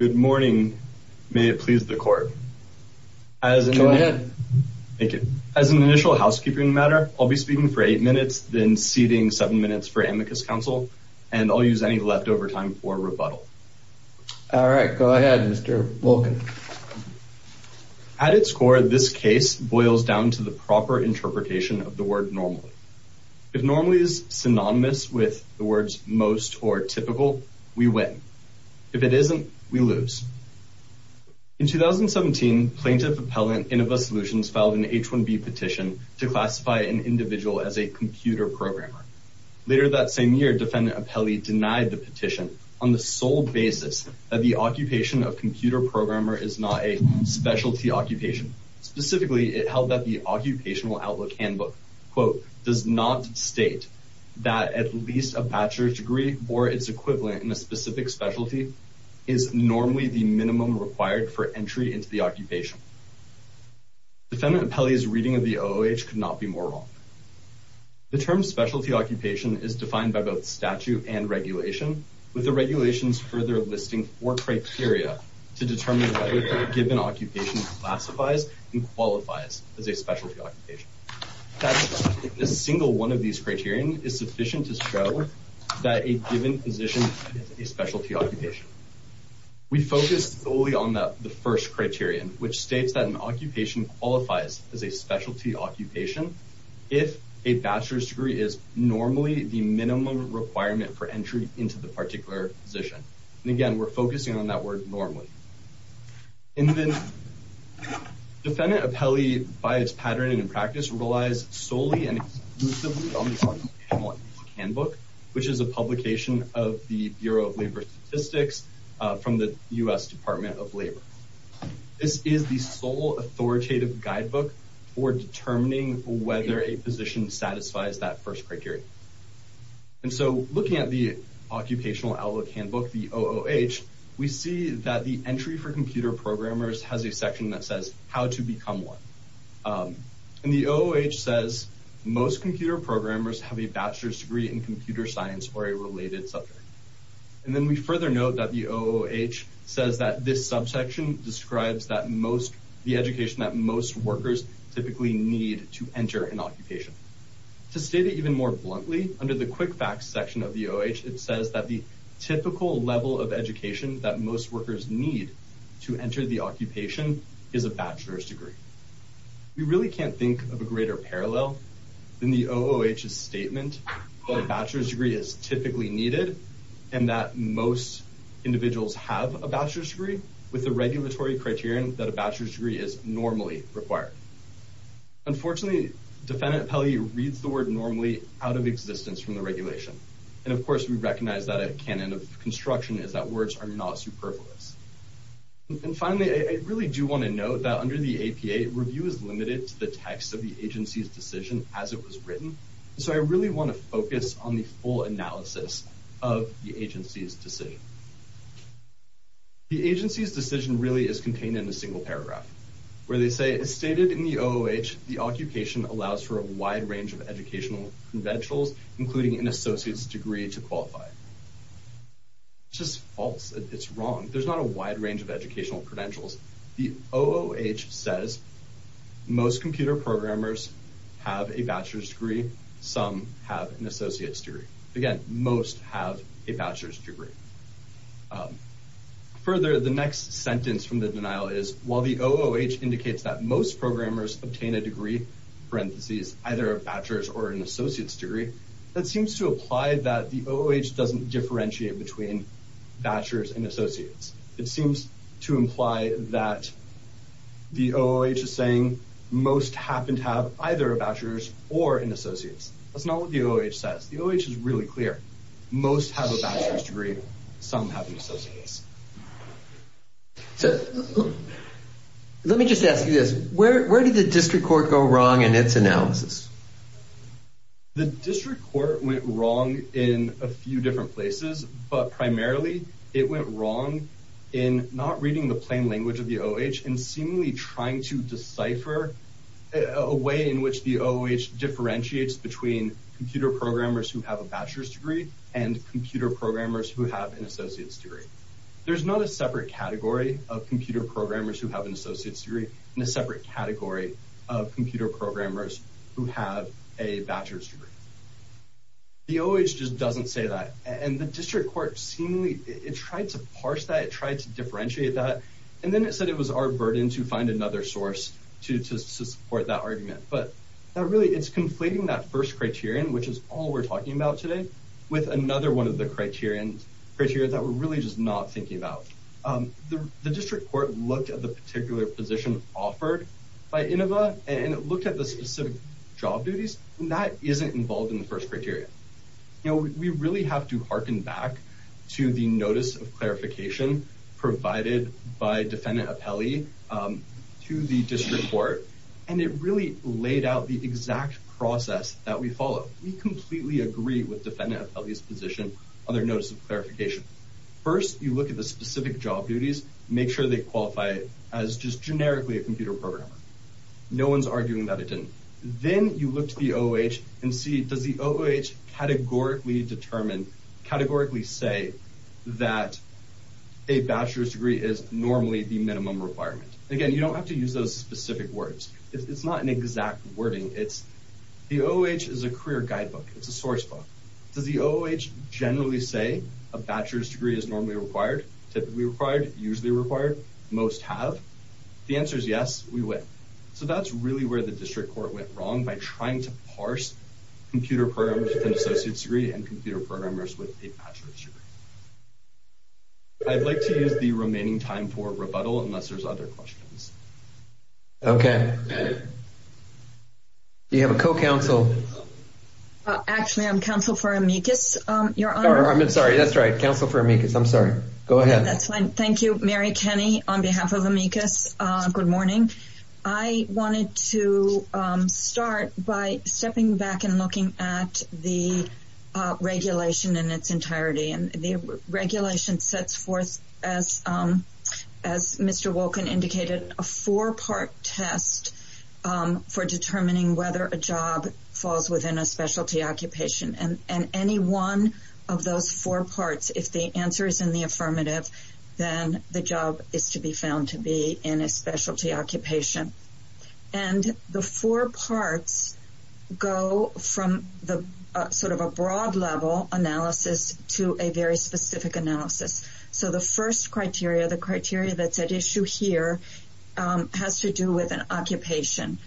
Good morning. May it please the court. As an initial housekeeping matter, I'll be speaking for eight minutes, then ceding seven minutes for amicus counsel, and I'll use any leftover time for rebuttal. At its core, this case boils down to the proper interpretation of the word normally. If normally is synonymous with the words most or typical, we win. If it isn't, we lose. In 2017, Plaintiff Appellant Innova Solutions filed an H-1B petition to classify an individual as a computer programmer. Later that same year, Defendant Apelli denied the petition on the sole basis that the occupation of computer programmer is not a specialty occupation. Specifically, it held that the Occupational Outlook Handbook does not state that at least a bachelor's degree or its equivalent in a specific specialty is normally the minimum required for entry into the occupation. Defendant Apelli's reading of the OOH could not be more wrong. The term specialty occupation is defined by both statute and regulation, with the regulations further listing four criteria to determine whether a given occupation classifies and qualifies as a specialty occupation. A single one of these criterion is sufficient to show that a given position is a specialty occupation. We focus solely on the first criterion, which states that an occupation qualifies as a specialty occupation if a bachelor's degree is normally the minimum requirement for entry into the particular position. Again, we're focusing on that word normally. Defendant Apelli, by its pattern and in practice, relies solely and exclusively on the Occupational Outlook Handbook, which is a publication of the Bureau of Labor Statistics from the U.S. Department of Labor. This is the sole authoritative guidebook for determining whether a position satisfies that first criterion. And so looking at the Occupational Outlook Handbook, the OOH, we see that the entry for computer programmers has a section that says how to become one. And the OOH says most computer programmers have a bachelor's degree in computer science or a related subject. And then we further note that the OOH says that this subsection describes the education that most workers typically need to enter an occupation. To state it even more bluntly, under the quick facts section of the OOH, it says that the typical level of education that most workers need to enter the occupation is a bachelor's degree. We really can't think of a greater parallel than the OOH's statement that a bachelor's degree is typically needed and that most individuals have a bachelor's that a bachelor's degree is normally required. Unfortunately, defendant appellee reads the word normally out of existence from the regulation. And of course, we recognize that a canon of construction is that words are not superfluous. And finally, I really do want to note that under the APA, review is limited to the text of the agency's decision as it was written. So I really want to focus on the full analysis of the agency's decision. The agency's decision really is contained in a single paragraph where they say it's stated in the OOH, the occupation allows for a wide range of educational credentials, including an associate's degree to qualify. It's just false. It's wrong. There's not a wide range of educational credentials. The OOH says most computer programmers have a bachelor's degree. Some have an associate's degree. Further, the next sentence from the denial is while the OOH indicates that most programmers obtain a degree, parentheses, either a bachelor's or an associate's degree, that seems to apply that the OOH doesn't differentiate between bachelor's and associates. It seems to imply that the OOH is saying most happen to have either a bachelor's or an associate's. That's not what the OOH says. The OOH is really clear. Most have a bachelor's degree. Some have an associate's. So let me just ask you this. Where did the district court go wrong in its analysis? The district court went wrong in a few different places, but primarily it went wrong in not reading the plain language of the OOH and seemingly trying to decipher a way in which the computer programmers who have a bachelor's degree and computer programmers who have an associate's degree. There's not a separate category of computer programmers who have an associate's degree and a separate category of computer programmers who have a bachelor's degree. The OOH just doesn't say that, and the district court seemingly tried to parse that. It tried to differentiate that, and then it said it was our burden to find another source to support that argument. But really, it's conflating that first criterion, which is all we're talking about today, with another one of the criteria that we're really just not thinking about. The district court looked at the particular position offered by INOVA, and it looked at the specific job duties, and that isn't involved in the first criteria. We really have to harken back to the notice of clarification provided by defendant Apelli to the district court, and it really laid out the exact process that we follow. We completely agree with defendant Apelli's position on their notice of clarification. First, you look at the specific job duties, make sure they qualify as just generically a computer programmer. No one's arguing that it didn't. Then you look to the OOH and see, does the OOH categorically say that a bachelor's degree is normally the minimum requirement? Again, you don't have to use those specific words. It's not an exact wording. The OOH is a career guidebook. It's a source book. Does the OOH generally say a bachelor's degree is normally required, typically required, usually required? Most have. The answer is yes, we would. So that's where the district court went wrong by trying to parse computer programmers with an associate's degree and computer programmers with a bachelor's degree. I'd like to use the remaining time for rebuttal unless there's other questions. Okay. Do you have a co-counsel? Actually, I'm counsel for amicus. I'm sorry. That's right. Counsel for amicus. I'm sorry. Go ahead. That's right. I wanted to start by stepping back and looking at the regulation in its entirety. The regulation sets forth, as Mr. Wolkin indicated, a four-part test for determining whether a job falls within a specialty occupation. Any one of those four parts, if the answer is in the and the four parts go from the sort of a broad level analysis to a very specific analysis. So the first criteria, the criteria that's at issue here, has to do with an occupation.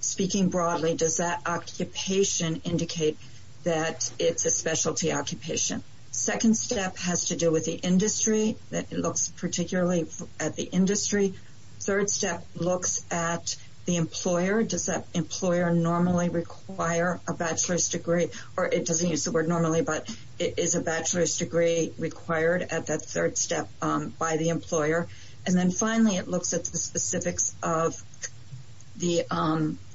Speaking broadly, does that occupation indicate that it's a specialty occupation? Second step has to do with the industry, that it looks particularly at the industry. Third step looks at the employer. Does that employer normally require a bachelor's degree? Or it doesn't use the word normally, but is a bachelor's degree required at that third step by the employer? And then finally, it looks at the specifics of the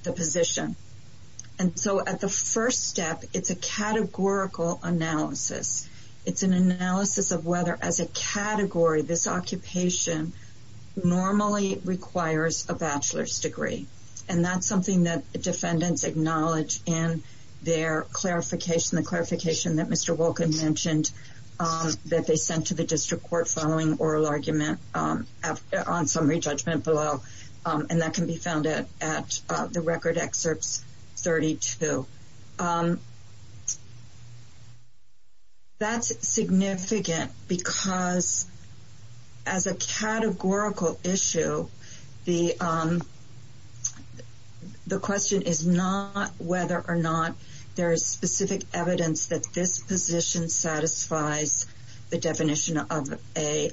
position. And so at the first step, it's a categorical analysis. It's an analysis of whether, as a category, this occupation normally requires a bachelor's degree. And that's something that defendants acknowledge in their clarification, the clarification that Mr. Wolkin mentioned that they sent to the district court following oral argument on summary judgment below. And that can be found at the record excerpts 32. That's significant because as a categorical issue, the question is not whether or not there is specific evidence that this position satisfies the definition of a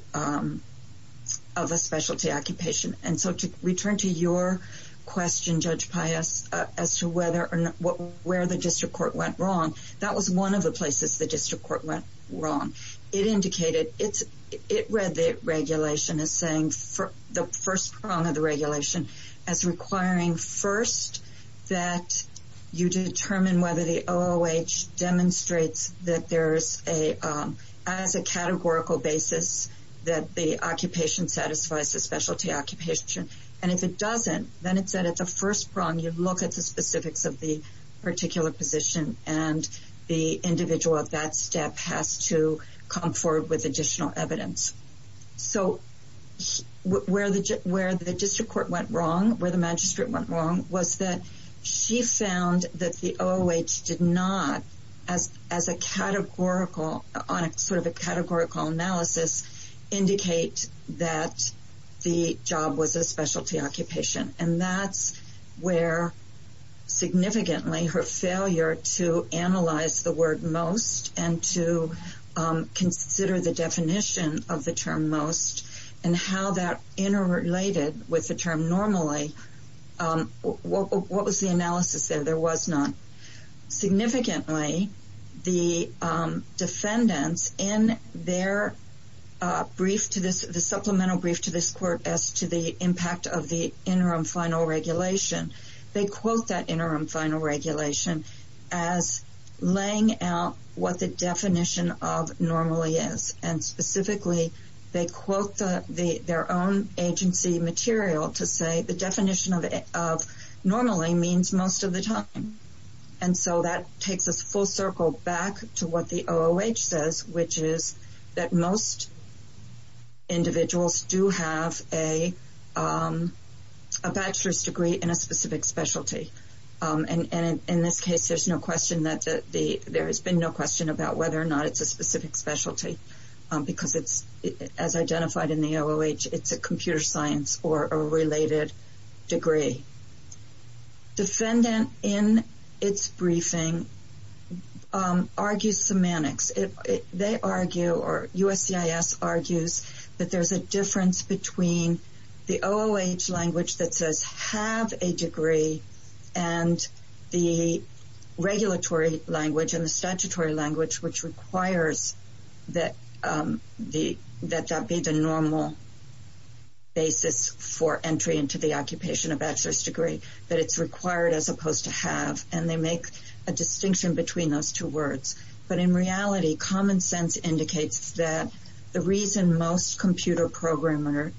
specialty occupation. And so to return to your question, Judge Pius, as to whether or not where the district court went wrong, that was one of the places the district court went wrong. It read the regulation as saying the first prong of the regulation as requiring first that you determine whether the And if it doesn't, then it said at the first prong, you look at the specifics of the particular position and the individual at that step has to come forward with additional evidence. So where the district court went wrong, where the magistrate went wrong, was that she found that the OOH did not, as a categorical, on a sort of a categorical analysis, indicate that the job was a specialty occupation. And that's where significantly her failure to analyze the word most and to consider the definition of the term most and how that interrelated with the term normally, what was the analysis there? There was none. Significantly, the defendants in their brief to this, the supplemental brief to this court as to the impact of the interim final regulation, they quote that interim final regulation as laying out what the definition of normally is. And specifically, they quote their own agency material to say the definition of normally means most of the time. And so that takes us full circle back to what the OOH says, which is that most individuals do have a bachelor's degree in a specific specialty. And in this case, there has been no question about whether or not it's a specific specialty, because it's, as identified in the OOH, it's a computer science or a related degree. Defendant in its briefing argues semantics. They argue or USCIS argues that there's a difference between the OOH language that says have a degree and the regulatory language and the statutory language, which requires that that be the normal basis for entry into the occupation of bachelor's degree, that it's required as opposed to have. And they make a distinction between those two words. But in reality, common sense indicates that the reason most computer programmers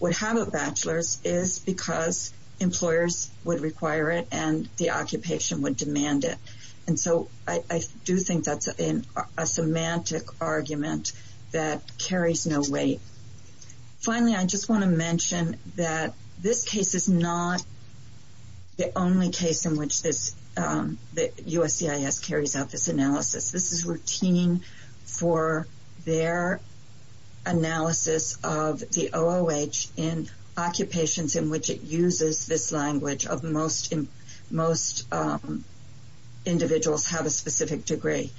would have a bachelor's is because employers would require it and the occupation would demand it. And so I do think that's in a semantic argument that carries no weight. Finally, I just want to mention that this case is not the only case in which this USCIS carries out this analysis. This is routine for their analysis of the OOH in occupations in which it uses this language of most individuals have a specific degree.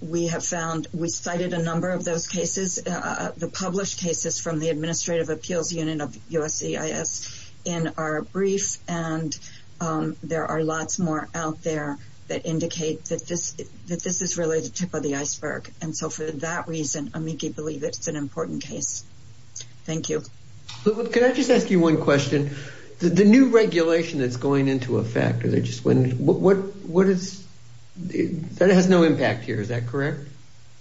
We have found, we cited a number of those cases, the published cases from the Administrative Appeals Unit of USCIS in our brief, and there are lots more out there that indicate that this is really the tip of the iceberg. And so for that reason, amici believe it's an important case. Thank you. Can I just ask you one question? The new regulation that's going into effect, that has no impact here, is that correct?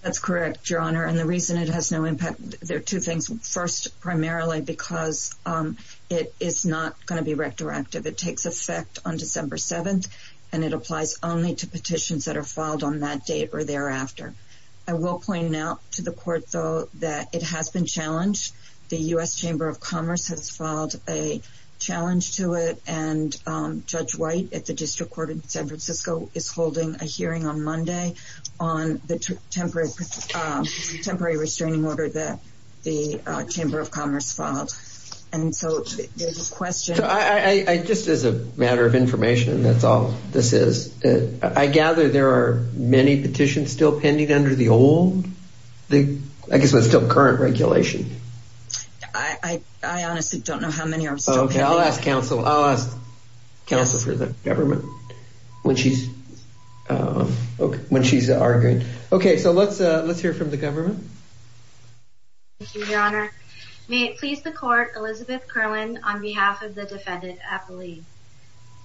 That's correct, Your Honor. And the reason it has no impact, there are two things. First, primarily because it is not going to be retroactive. It takes effect on December 7th, and it applies only to petitions that are filed on that date or after. I will point out to the court, though, that it has been challenged. The U.S. Chamber of Commerce has filed a challenge to it, and Judge White at the District Court in San Francisco is holding a hearing on Monday on the temporary restraining order that the Chamber of Commerce filed. And so there's a question. So I, just as a matter of information, that's all this is. I gather there are many petitions still pending under the old, I guess it's still current regulation. I honestly don't know how many are still pending. Okay, I'll ask counsel for the government when she's arguing. Okay, so let's hear from the government. Thank you, Your Honor. May it please the court, Elizabeth Curlin, on behalf of the defendant, Apolli.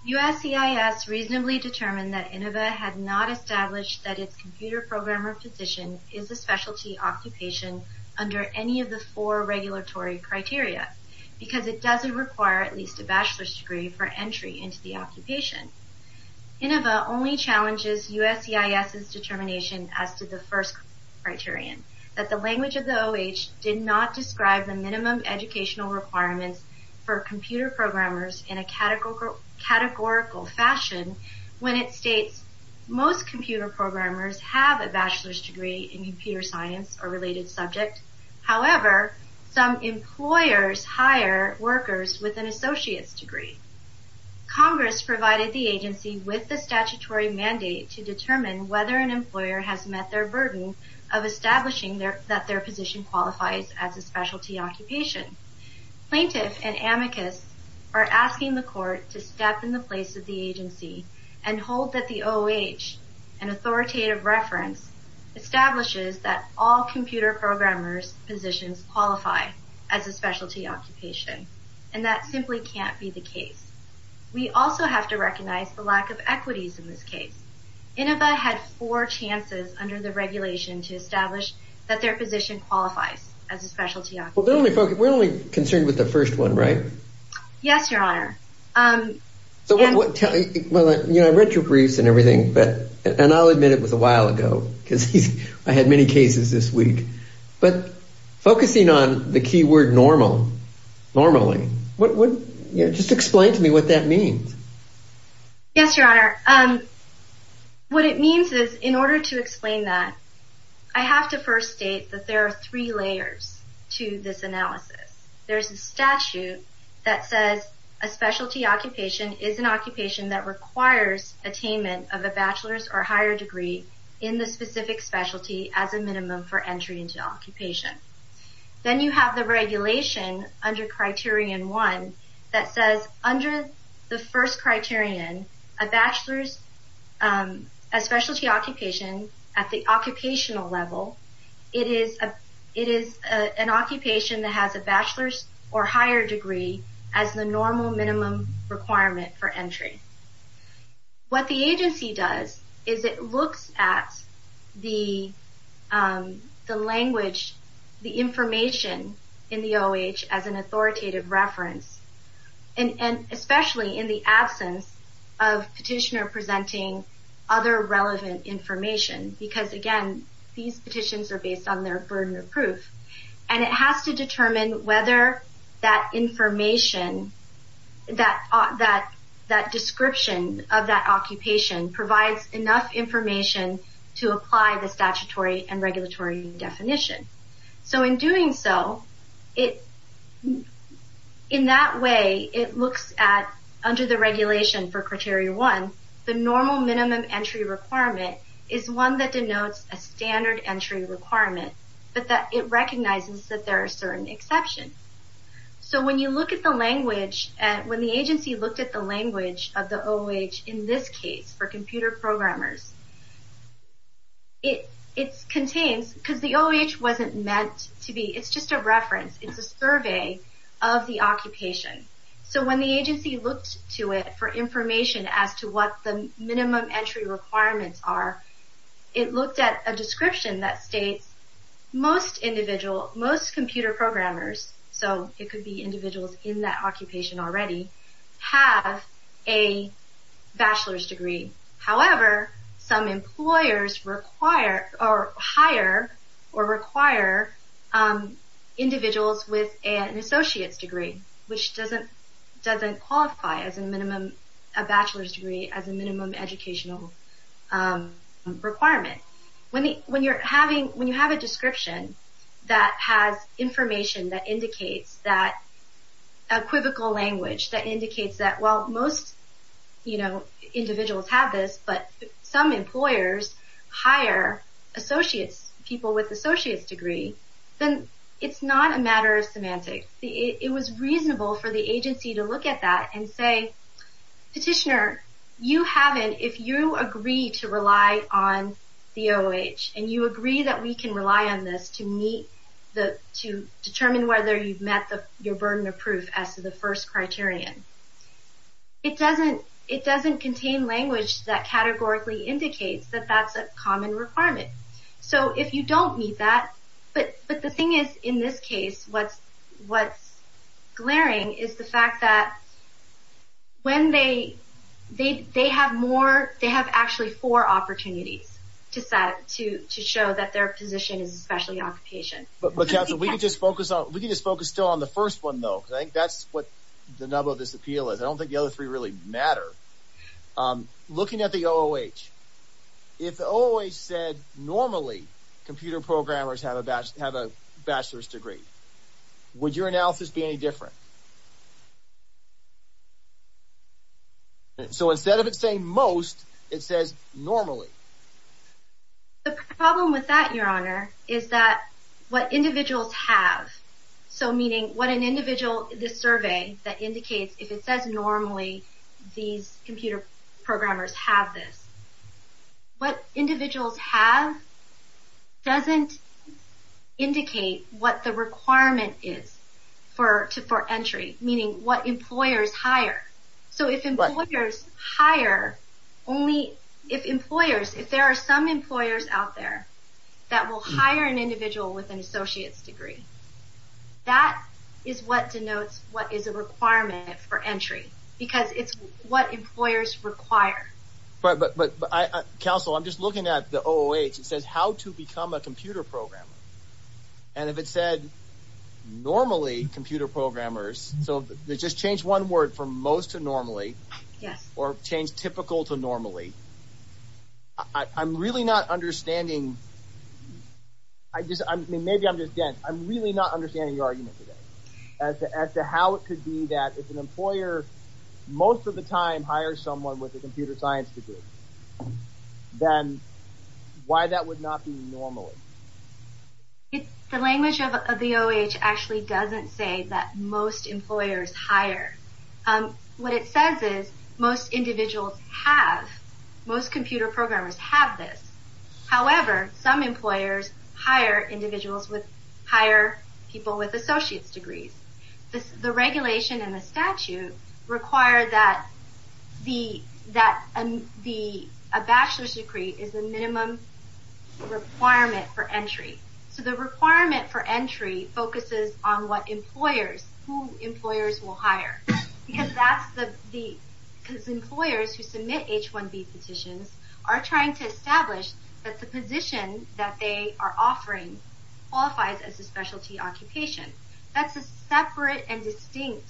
USCIS reasonably determined that Inova had not established that its computer programmer position is a specialty occupation under any of the four regulatory criteria, because it doesn't require at least a bachelor's degree for entry into the occupation. Inova only challenges USCIS's determination as to the first criterion, that the language of the O.H. did not describe the categorical fashion when it states most computer programmers have a bachelor's degree in computer science or related subject. However, some employers hire workers with an associate's degree. Congress provided the agency with the statutory mandate to determine whether an employer has met their burden of establishing that their position qualifies as a specialty occupation. Plaintiff and the court to step in the place of the agency and hold that the O.H., an authoritative reference, establishes that all computer programmers' positions qualify as a specialty occupation, and that simply can't be the case. We also have to recognize the lack of equities in this case. Inova had four chances under the regulation to establish that their position qualifies as a specialty occupation. So what, tell me, well, you know, I read your briefs and everything, but, and I'll admit it was a while ago, because I had many cases this week, but focusing on the key word normal, normally, what would, you know, just explain to me what that means? Yes, your honor. What it means is, in order to explain that, I have to first state that there are three layers to this analysis. There's a statute that says a specialty occupation is an occupation that requires attainment of a bachelor's or higher degree in the specific specialty as a minimum for entry into occupation. Then you have the regulation under criterion one that says, under the first criterion, a bachelor's, a specialty occupation at the occupational level, it is an occupation that has a bachelor's or higher degree as the normal minimum requirement for entry. What the agency does is it looks at the language, the information in the OH as an authoritative reference, and especially in the absence of petitioner presenting other relevant information, because, again, these petitions are based on their burden of proof, and it has to determine whether that information, that description of that occupation provides enough information to apply the statutory and regulatory definition. So in doing so, in that way, it looks at, under the regulation for criteria one, the normal minimum entry requirement is one that denotes a standard entry requirement, but that it recognizes that there are certain exceptions. So when you look at the language, when the agency looked at the language of the OH in this case, for computer programmers, it contains, because the OH wasn't meant to be, it's just a reference, it's a survey of the occupation. So when the agency looked to it for information as to what the minimum entry requirements are, it looked at a description that states most individual, most computer programmers, so it could be individuals in that occupation already, have a associate's degree, which doesn't qualify as a minimum, a bachelor's degree as a minimum educational requirement. When you have a description that has information that indicates that equivocal language, that indicates that, well, most individuals have this, but some employers hire associates, people with associates degree, then it's not a matter of semantics. It was reasonable for the agency to look at that and say, petitioner, you haven't, if you agree to rely on the OH, and you agree that we can rely on this to meet, to determine whether you've met your burden of proof as to the first criterion, it doesn't contain language that categorically indicates that that's a common requirement. So if you don't meet that, but the thing is, in this case, what's glaring is the fact that when they, they have more, they have actually four opportunities to set, to show that their position is especially occupation. But Council, we can just focus on, we can just focus still on the first one, though, because I think that's what the nub of this appeal is. I don't think the other three really matter. Looking at the OH, if the OH said normally computer programmers have a bachelor's degree, would your analysis be any different? So instead of it saying most, it says normally. The problem with that, Your Honor, is that what individuals have, so meaning what an individual, the survey that indicates if it says normally these computer programmers have this, what individuals have doesn't indicate what the requirement is for entry, meaning what employers hire. So if employers hire only, if employers, if there are some employers out there that will hire an individual with an associate's degree, that is what denotes what is a requirement for entry, because it's what employers require. But Council, I'm just looking at the OH, it says how to become a computer programmer, and if it said normally computer programmers, so they just change one word from most to normally, or change typical to normally, I'm really not understanding, I just, I mean, maybe I'm just dense, I'm really not understanding your argument today as to how it could be that if an employer most of the time hires someone with a computer science degree, then why that would not be normally. The language of the OH actually doesn't say that most employers hire. What it says is most individuals have, most computer programmers have this. However, some employers hire individuals with, hire people with associate's degrees. The regulation and the statute require that the, that the, a bachelor's degree is the minimum requirement for entry. So the requirement for what employers, who employers will hire, because that's the, because employers who submit H-1B petitions are trying to establish that the position that they are offering qualifies as a specialty occupation. That's a separate and distinct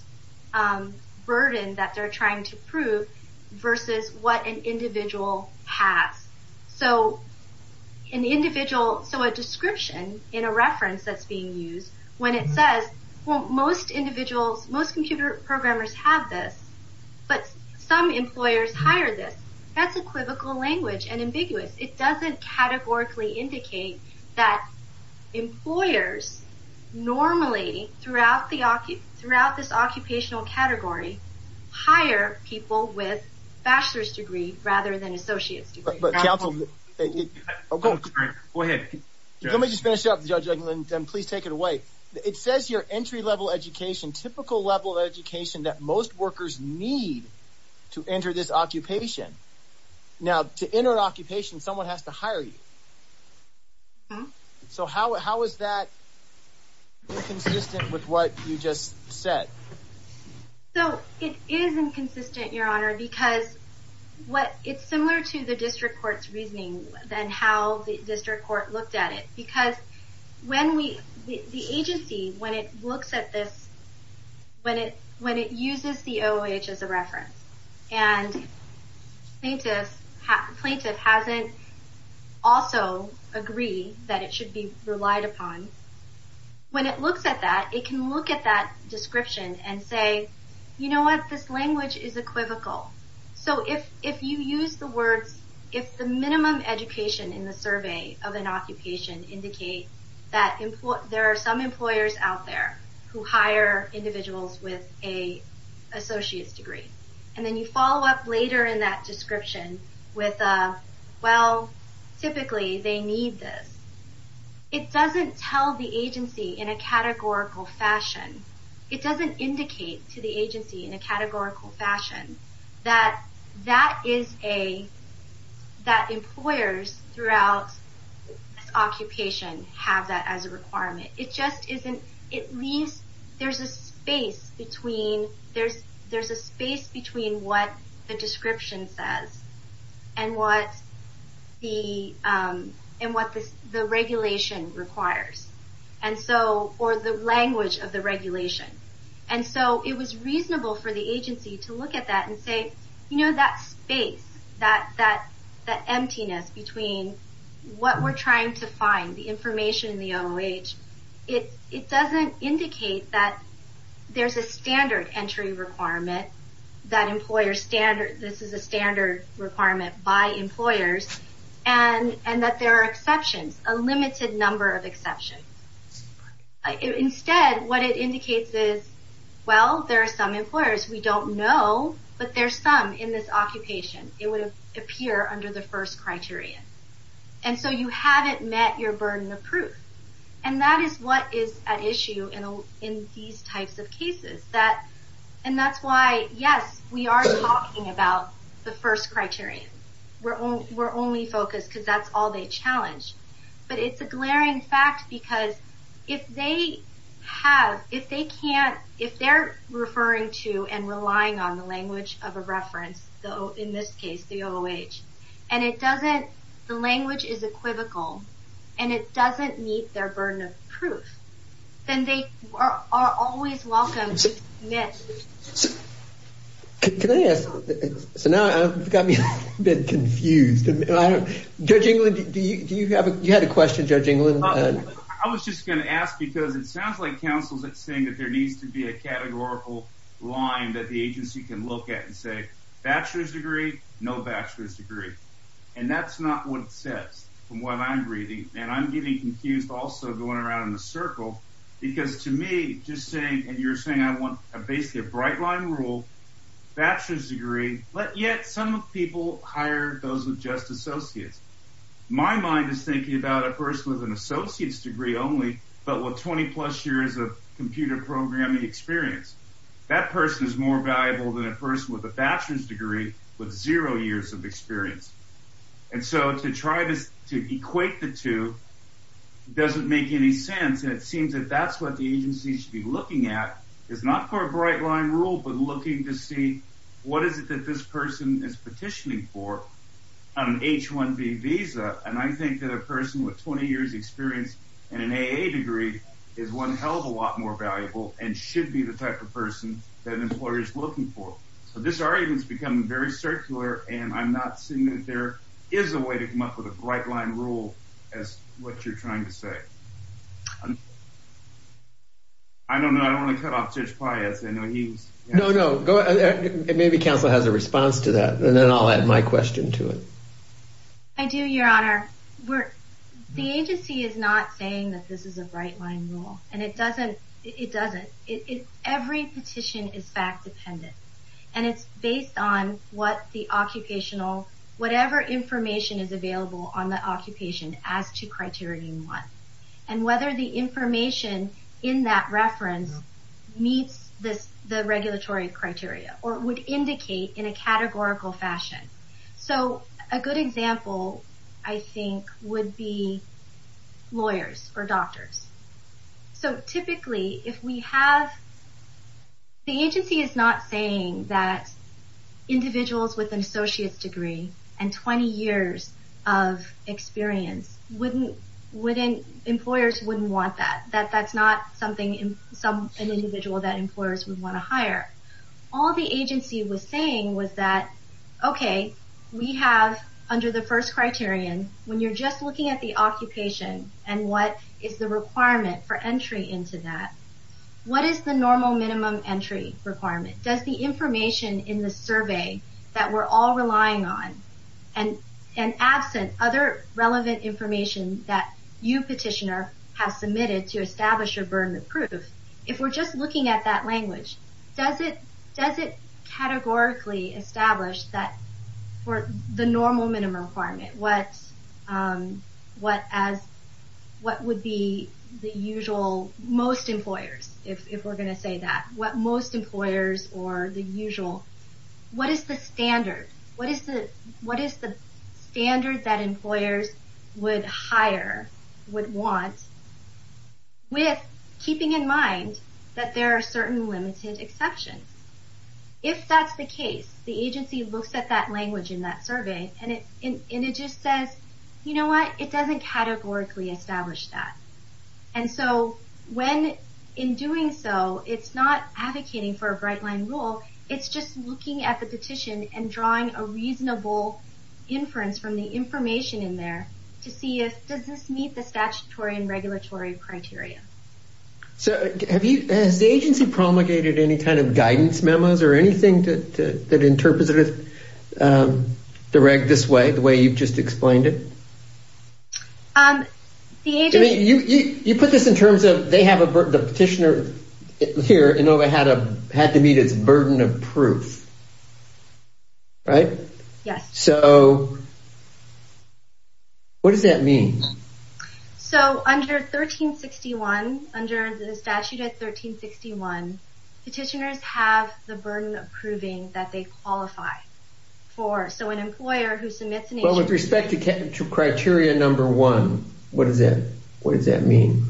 burden that they're trying to prove, versus what an individual has. So an individual, so a description in a reference that's being used, when it says, well, most individuals, most computer programmers have this, but some employers hire this, that's equivocal language and ambiguous. It doesn't categorically indicate that employers normally throughout the, throughout this occupational category, hire people with bachelor's degree rather than associate's degree. But counsel, go ahead. Let me just finish up, Judge England, and please take it away. It says here, entry-level education, typical level of education that most workers need to enter this occupation. Now to enter an occupation, someone has to hire you. So how, how is that inconsistent with what you just said? So it is inconsistent, your honor, because what, it's similar to the district court's and how the district court looked at it. Because when we, the agency, when it looks at this, when it, when it uses the OOH as a reference, and plaintiff, plaintiff hasn't also agree that it should be relied upon, when it looks at that, it can look at that description and say, you know what, this language is equivocal. So if, if you use the words, if the minimum education in the survey of an occupation indicate that there are some employers out there who hire individuals with a associate's degree, and then you follow up later in that description with a, well, typically they need this. It doesn't tell the agency in a categorical fashion. It doesn't indicate to the agency in a categorical fashion that that is a, that employers throughout this occupation have that as a requirement. It just isn't, it leaves, there's a space between, there's, there's a space between what the description says and what the, and what the regulation requires. And so, or the language of the regulation. And so it was reasonable for the agency to look at that and say, you know, that space, that, that, that emptiness between what we're trying to find, the information in the OOH, it, it doesn't indicate that there's a standard entry requirement, that employers standard, this is a standard requirement by employers, and, and that there are exceptions, a limited number of exceptions. Instead, what it indicates is, well, there are some employers, we don't know, but there's some in this occupation, it would appear under the first criterion. And so you haven't met your burden of proof. And that is what is at issue in, in these types of cases that, and that's why, yes, we are talking about the first criterion. We're only, we're only focused because that's all they challenge. But it's a glaring fact, because if they have, if they can't, if they're referring to and relying on the language of a reference, though, in this case, the OOH, and it doesn't, the language is equivocal, and it doesn't meet their burden of proof, then they are always welcome to commit. Can I ask, so now I've got me a bit confused, and I don't, Judge England, do you, do you have a, you I was just going to ask, because it sounds like counsel's at saying that there needs to be a categorical line that the agency can look at and say, bachelor's degree, no bachelor's degree. And that's not what it says, from what I'm reading. And I'm getting confused also going around in the circle, because to me, just saying, and you're saying I want a basically a bright line rule, bachelor's degree, but yet some people hire those with just associates. My mind is thinking about a person with an associate's degree only, but with 20 plus years of computer programming experience. That person is more valuable than a person with a bachelor's degree with zero years of experience. And so to try this, to equate the two doesn't make any sense, and it seems that that's what the agency should be looking at, is not for a bright line rule, but looking to see what is it that this in an AA degree is one hell of a lot more valuable and should be the type of person that an employer is looking for. So this argument has become very circular, and I'm not seeing that there is a way to come up with a bright line rule, as what you're trying to say. I don't know, I don't want to cut off Judge Pius, I know he was No, no, go ahead. Maybe counsel has a response to that, and then I'll add my question to it. I do, your honor. The agency is not saying that this is a bright line rule, and it doesn't, it doesn't. Every petition is fact dependent, and it's based on what the occupational, whatever information is available on the occupation as to criterion one, and whether the information in that reference meets the regulatory criteria, or would indicate in a categorical fashion. So a good example, I think, would be lawyers or doctors. So typically, if we have, the agency is not saying that individuals with an associate's degree and 20 years of experience wouldn't, wouldn't, employers wouldn't want that, that that's not something, some individual that employers would want to hire. All the agency was saying was that okay, we have, under the first criterion, when you're just looking at the occupation, and what is the requirement for entry into that, what is the normal minimum entry requirement? Does the information in the survey that we're all relying on, and absent other relevant information that you, petitioner, have submitted to establish your burden of proof, if we're just categorically establish that for the normal minimum requirement, what, what as, what would be the usual, most employers, if we're going to say that, what most employers or the usual, what is the standard? What is the, what is the standard that employers would hire, would want, with keeping in mind that there are certain limited exceptions. If that's the case, the agency looks at that language in that survey, and it, and it just says, you know what, it doesn't categorically establish that. And so, when, in doing so, it's not advocating for a bright line rule, it's just looking at the petition and drawing a reasonable inference from the information in there, to see if, does this meet the statutory and regulatory criteria. So, have you, has the agency promulgated any kind of guidance memos or anything that, that interprets it, direct this way, the way you've just explained it? The agency, you, you, you put this in terms of, they have a, the petitioner here, Inova, had a, had to meet its burden of proof, right? Yes. So, what does that mean? So, under 1361, under the statute at 1361, petitioners have the burden of proving that they qualify for, so an employer who submits an agency... Well, with respect to criteria number one, what does that, what does that mean?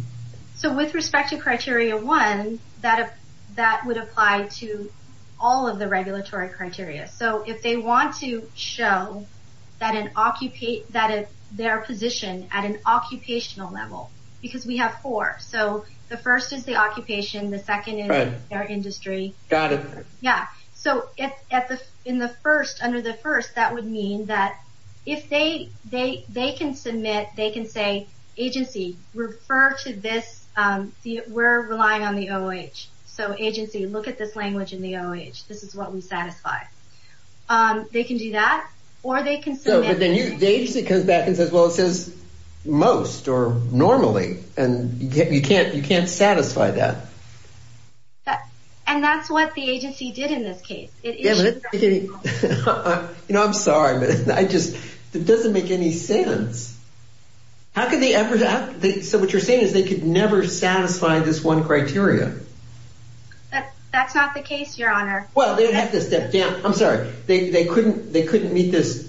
So, with respect to criteria one, that, that would apply to all of the regulatory criteria. So, if they want to show that an, that their position at an occupational level, because we have four. So, the first is the occupation, the second is their industry. Got it. Yeah. So, at the, in the first, under the first, that would mean that, if they, they, they can submit, they can say, agency, refer to this, see, we're relying on the OH. So, agency, look at this language in the OH. This is what we satisfy. They can do that, or they can submit... So, but then you, the agency comes back and says, well, it says most, or normally, and you can't, you can't satisfy that. That, and that's what the agency did in this case. You know, I'm sorry, but I just, it doesn't make any sense. How could they ever, how, so what you're saying is they could never satisfy this one criteria. That, that's not the case, your honor. Well, they'd have to step down. I'm sorry, they, they couldn't, they couldn't meet this,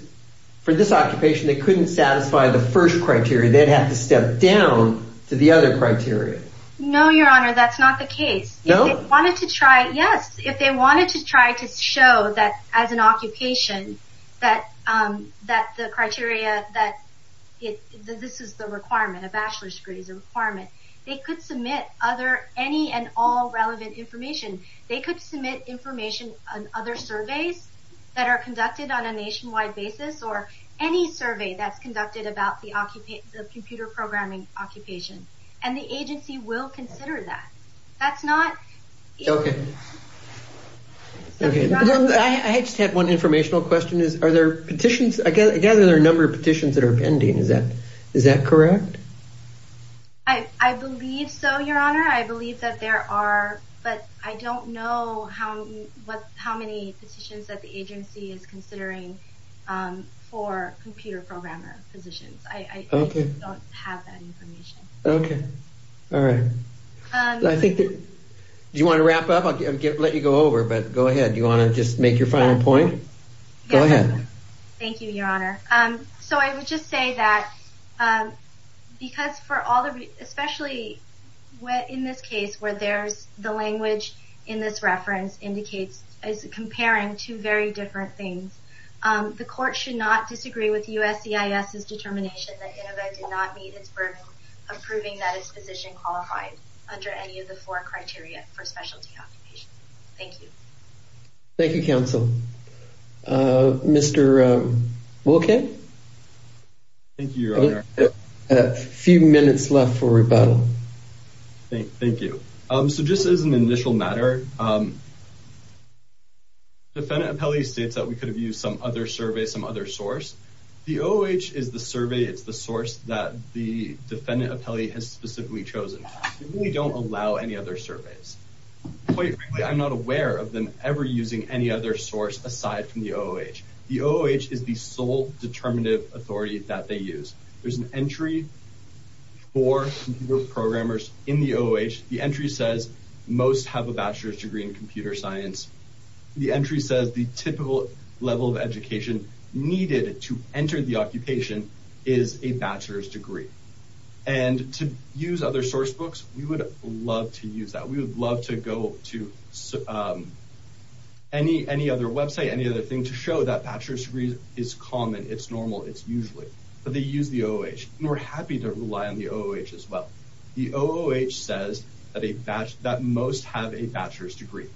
for this occupation, they couldn't satisfy the first criteria. They'd have to step down to the other criteria. No, your honor, that's not the case. No? If they wanted to try, yes, if they wanted to try to show that, as an occupation, that, that the criteria, that it, this is the requirement. They could submit other, any and all relevant information. They could submit information on other surveys that are conducted on a nationwide basis, or any survey that's conducted about the occupation, the computer programming occupation, and the agency will consider that. That's not... Okay. Okay. I just have one informational question, is are there petitions, I gather there are a number of petitions that are pending, is that, is that correct? I, I believe so, your honor. I believe that there are, but I don't know how, what, how many petitions that the agency is considering for computer programmer positions. I, I don't have that information. Okay. All right. I think that, do you want to wrap up? I'll let you go over, but go ahead. Do you want to just make your final point? Go ahead. Thank you, your honor. So I would just say that, because for all the, especially when, in this case, where there's the language in this reference indicates as comparing two very different things, the court should not disagree with USCIS's determination that Inova did not meet its burden of proving that its position qualified under any of the four criteria for specialty occupations. Thank you. Thank you, counsel. Mr. Wilkin? Thank you, your honor. A few minutes left for rebuttal. Thank you. So just as an initial matter, defendant appellee states that we could have used some other survey, some other source. The OOH is the survey, it's the source that the defendant appellee has specifically chosen. We don't allow any other surveys. Quite frankly, I'm not aware of them ever using any other source aside from the OOH. The OOH is the sole determinative authority that they use. There's an entry for programmers in the OOH. The entry says most have a bachelor's degree in computer science. The entry says the typical level of education needed to enter the occupation is a bachelor's degree. And to use other source books, we would love to use that. We would love to go to any other website, any other thing to show that bachelor's degree is common, it's normal, it's usually. But they use the OOH. And we're happy to rely on the OOH as well. The OOH says that most have a bachelor's degree.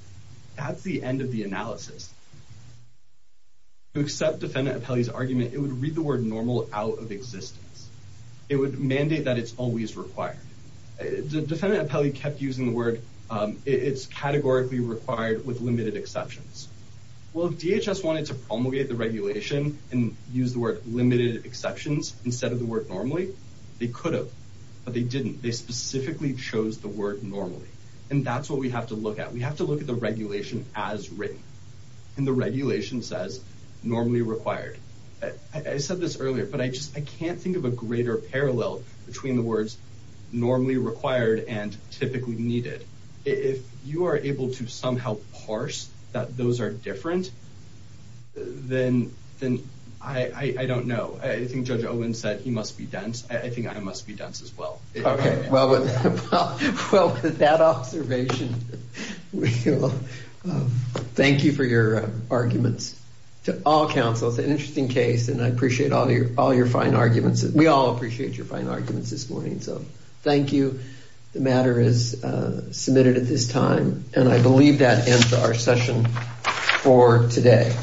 That's the end of the analysis. To accept defendant appellee's argument, it would read the word normal out of existence. It would mandate that it's always required. The defendant appellee kept using the word, it's categorically required with limited exceptions. Well, if DHS wanted to promulgate the regulation and use the word limited exceptions instead of the word normally, they could have, but they didn't. They specifically chose the word normally. And that's what we have to look at. We have to look at the regulation as written. And the regulation says normally required. I said this earlier, but I just, I can't think of a greater parallel between the words normally required and typically needed. If you are able to somehow parse that those are different, then I don't know. I think Judge Owen said he must be dense. I think I must be dense as well. Okay. Well, with that observation, we will thank you for your arguments to all counsel. It's an interesting case, and I appreciate all your fine arguments. We all appreciate your fine arguments this morning. So thank you. The matter is submitted at this time, and I believe that ends our session for today.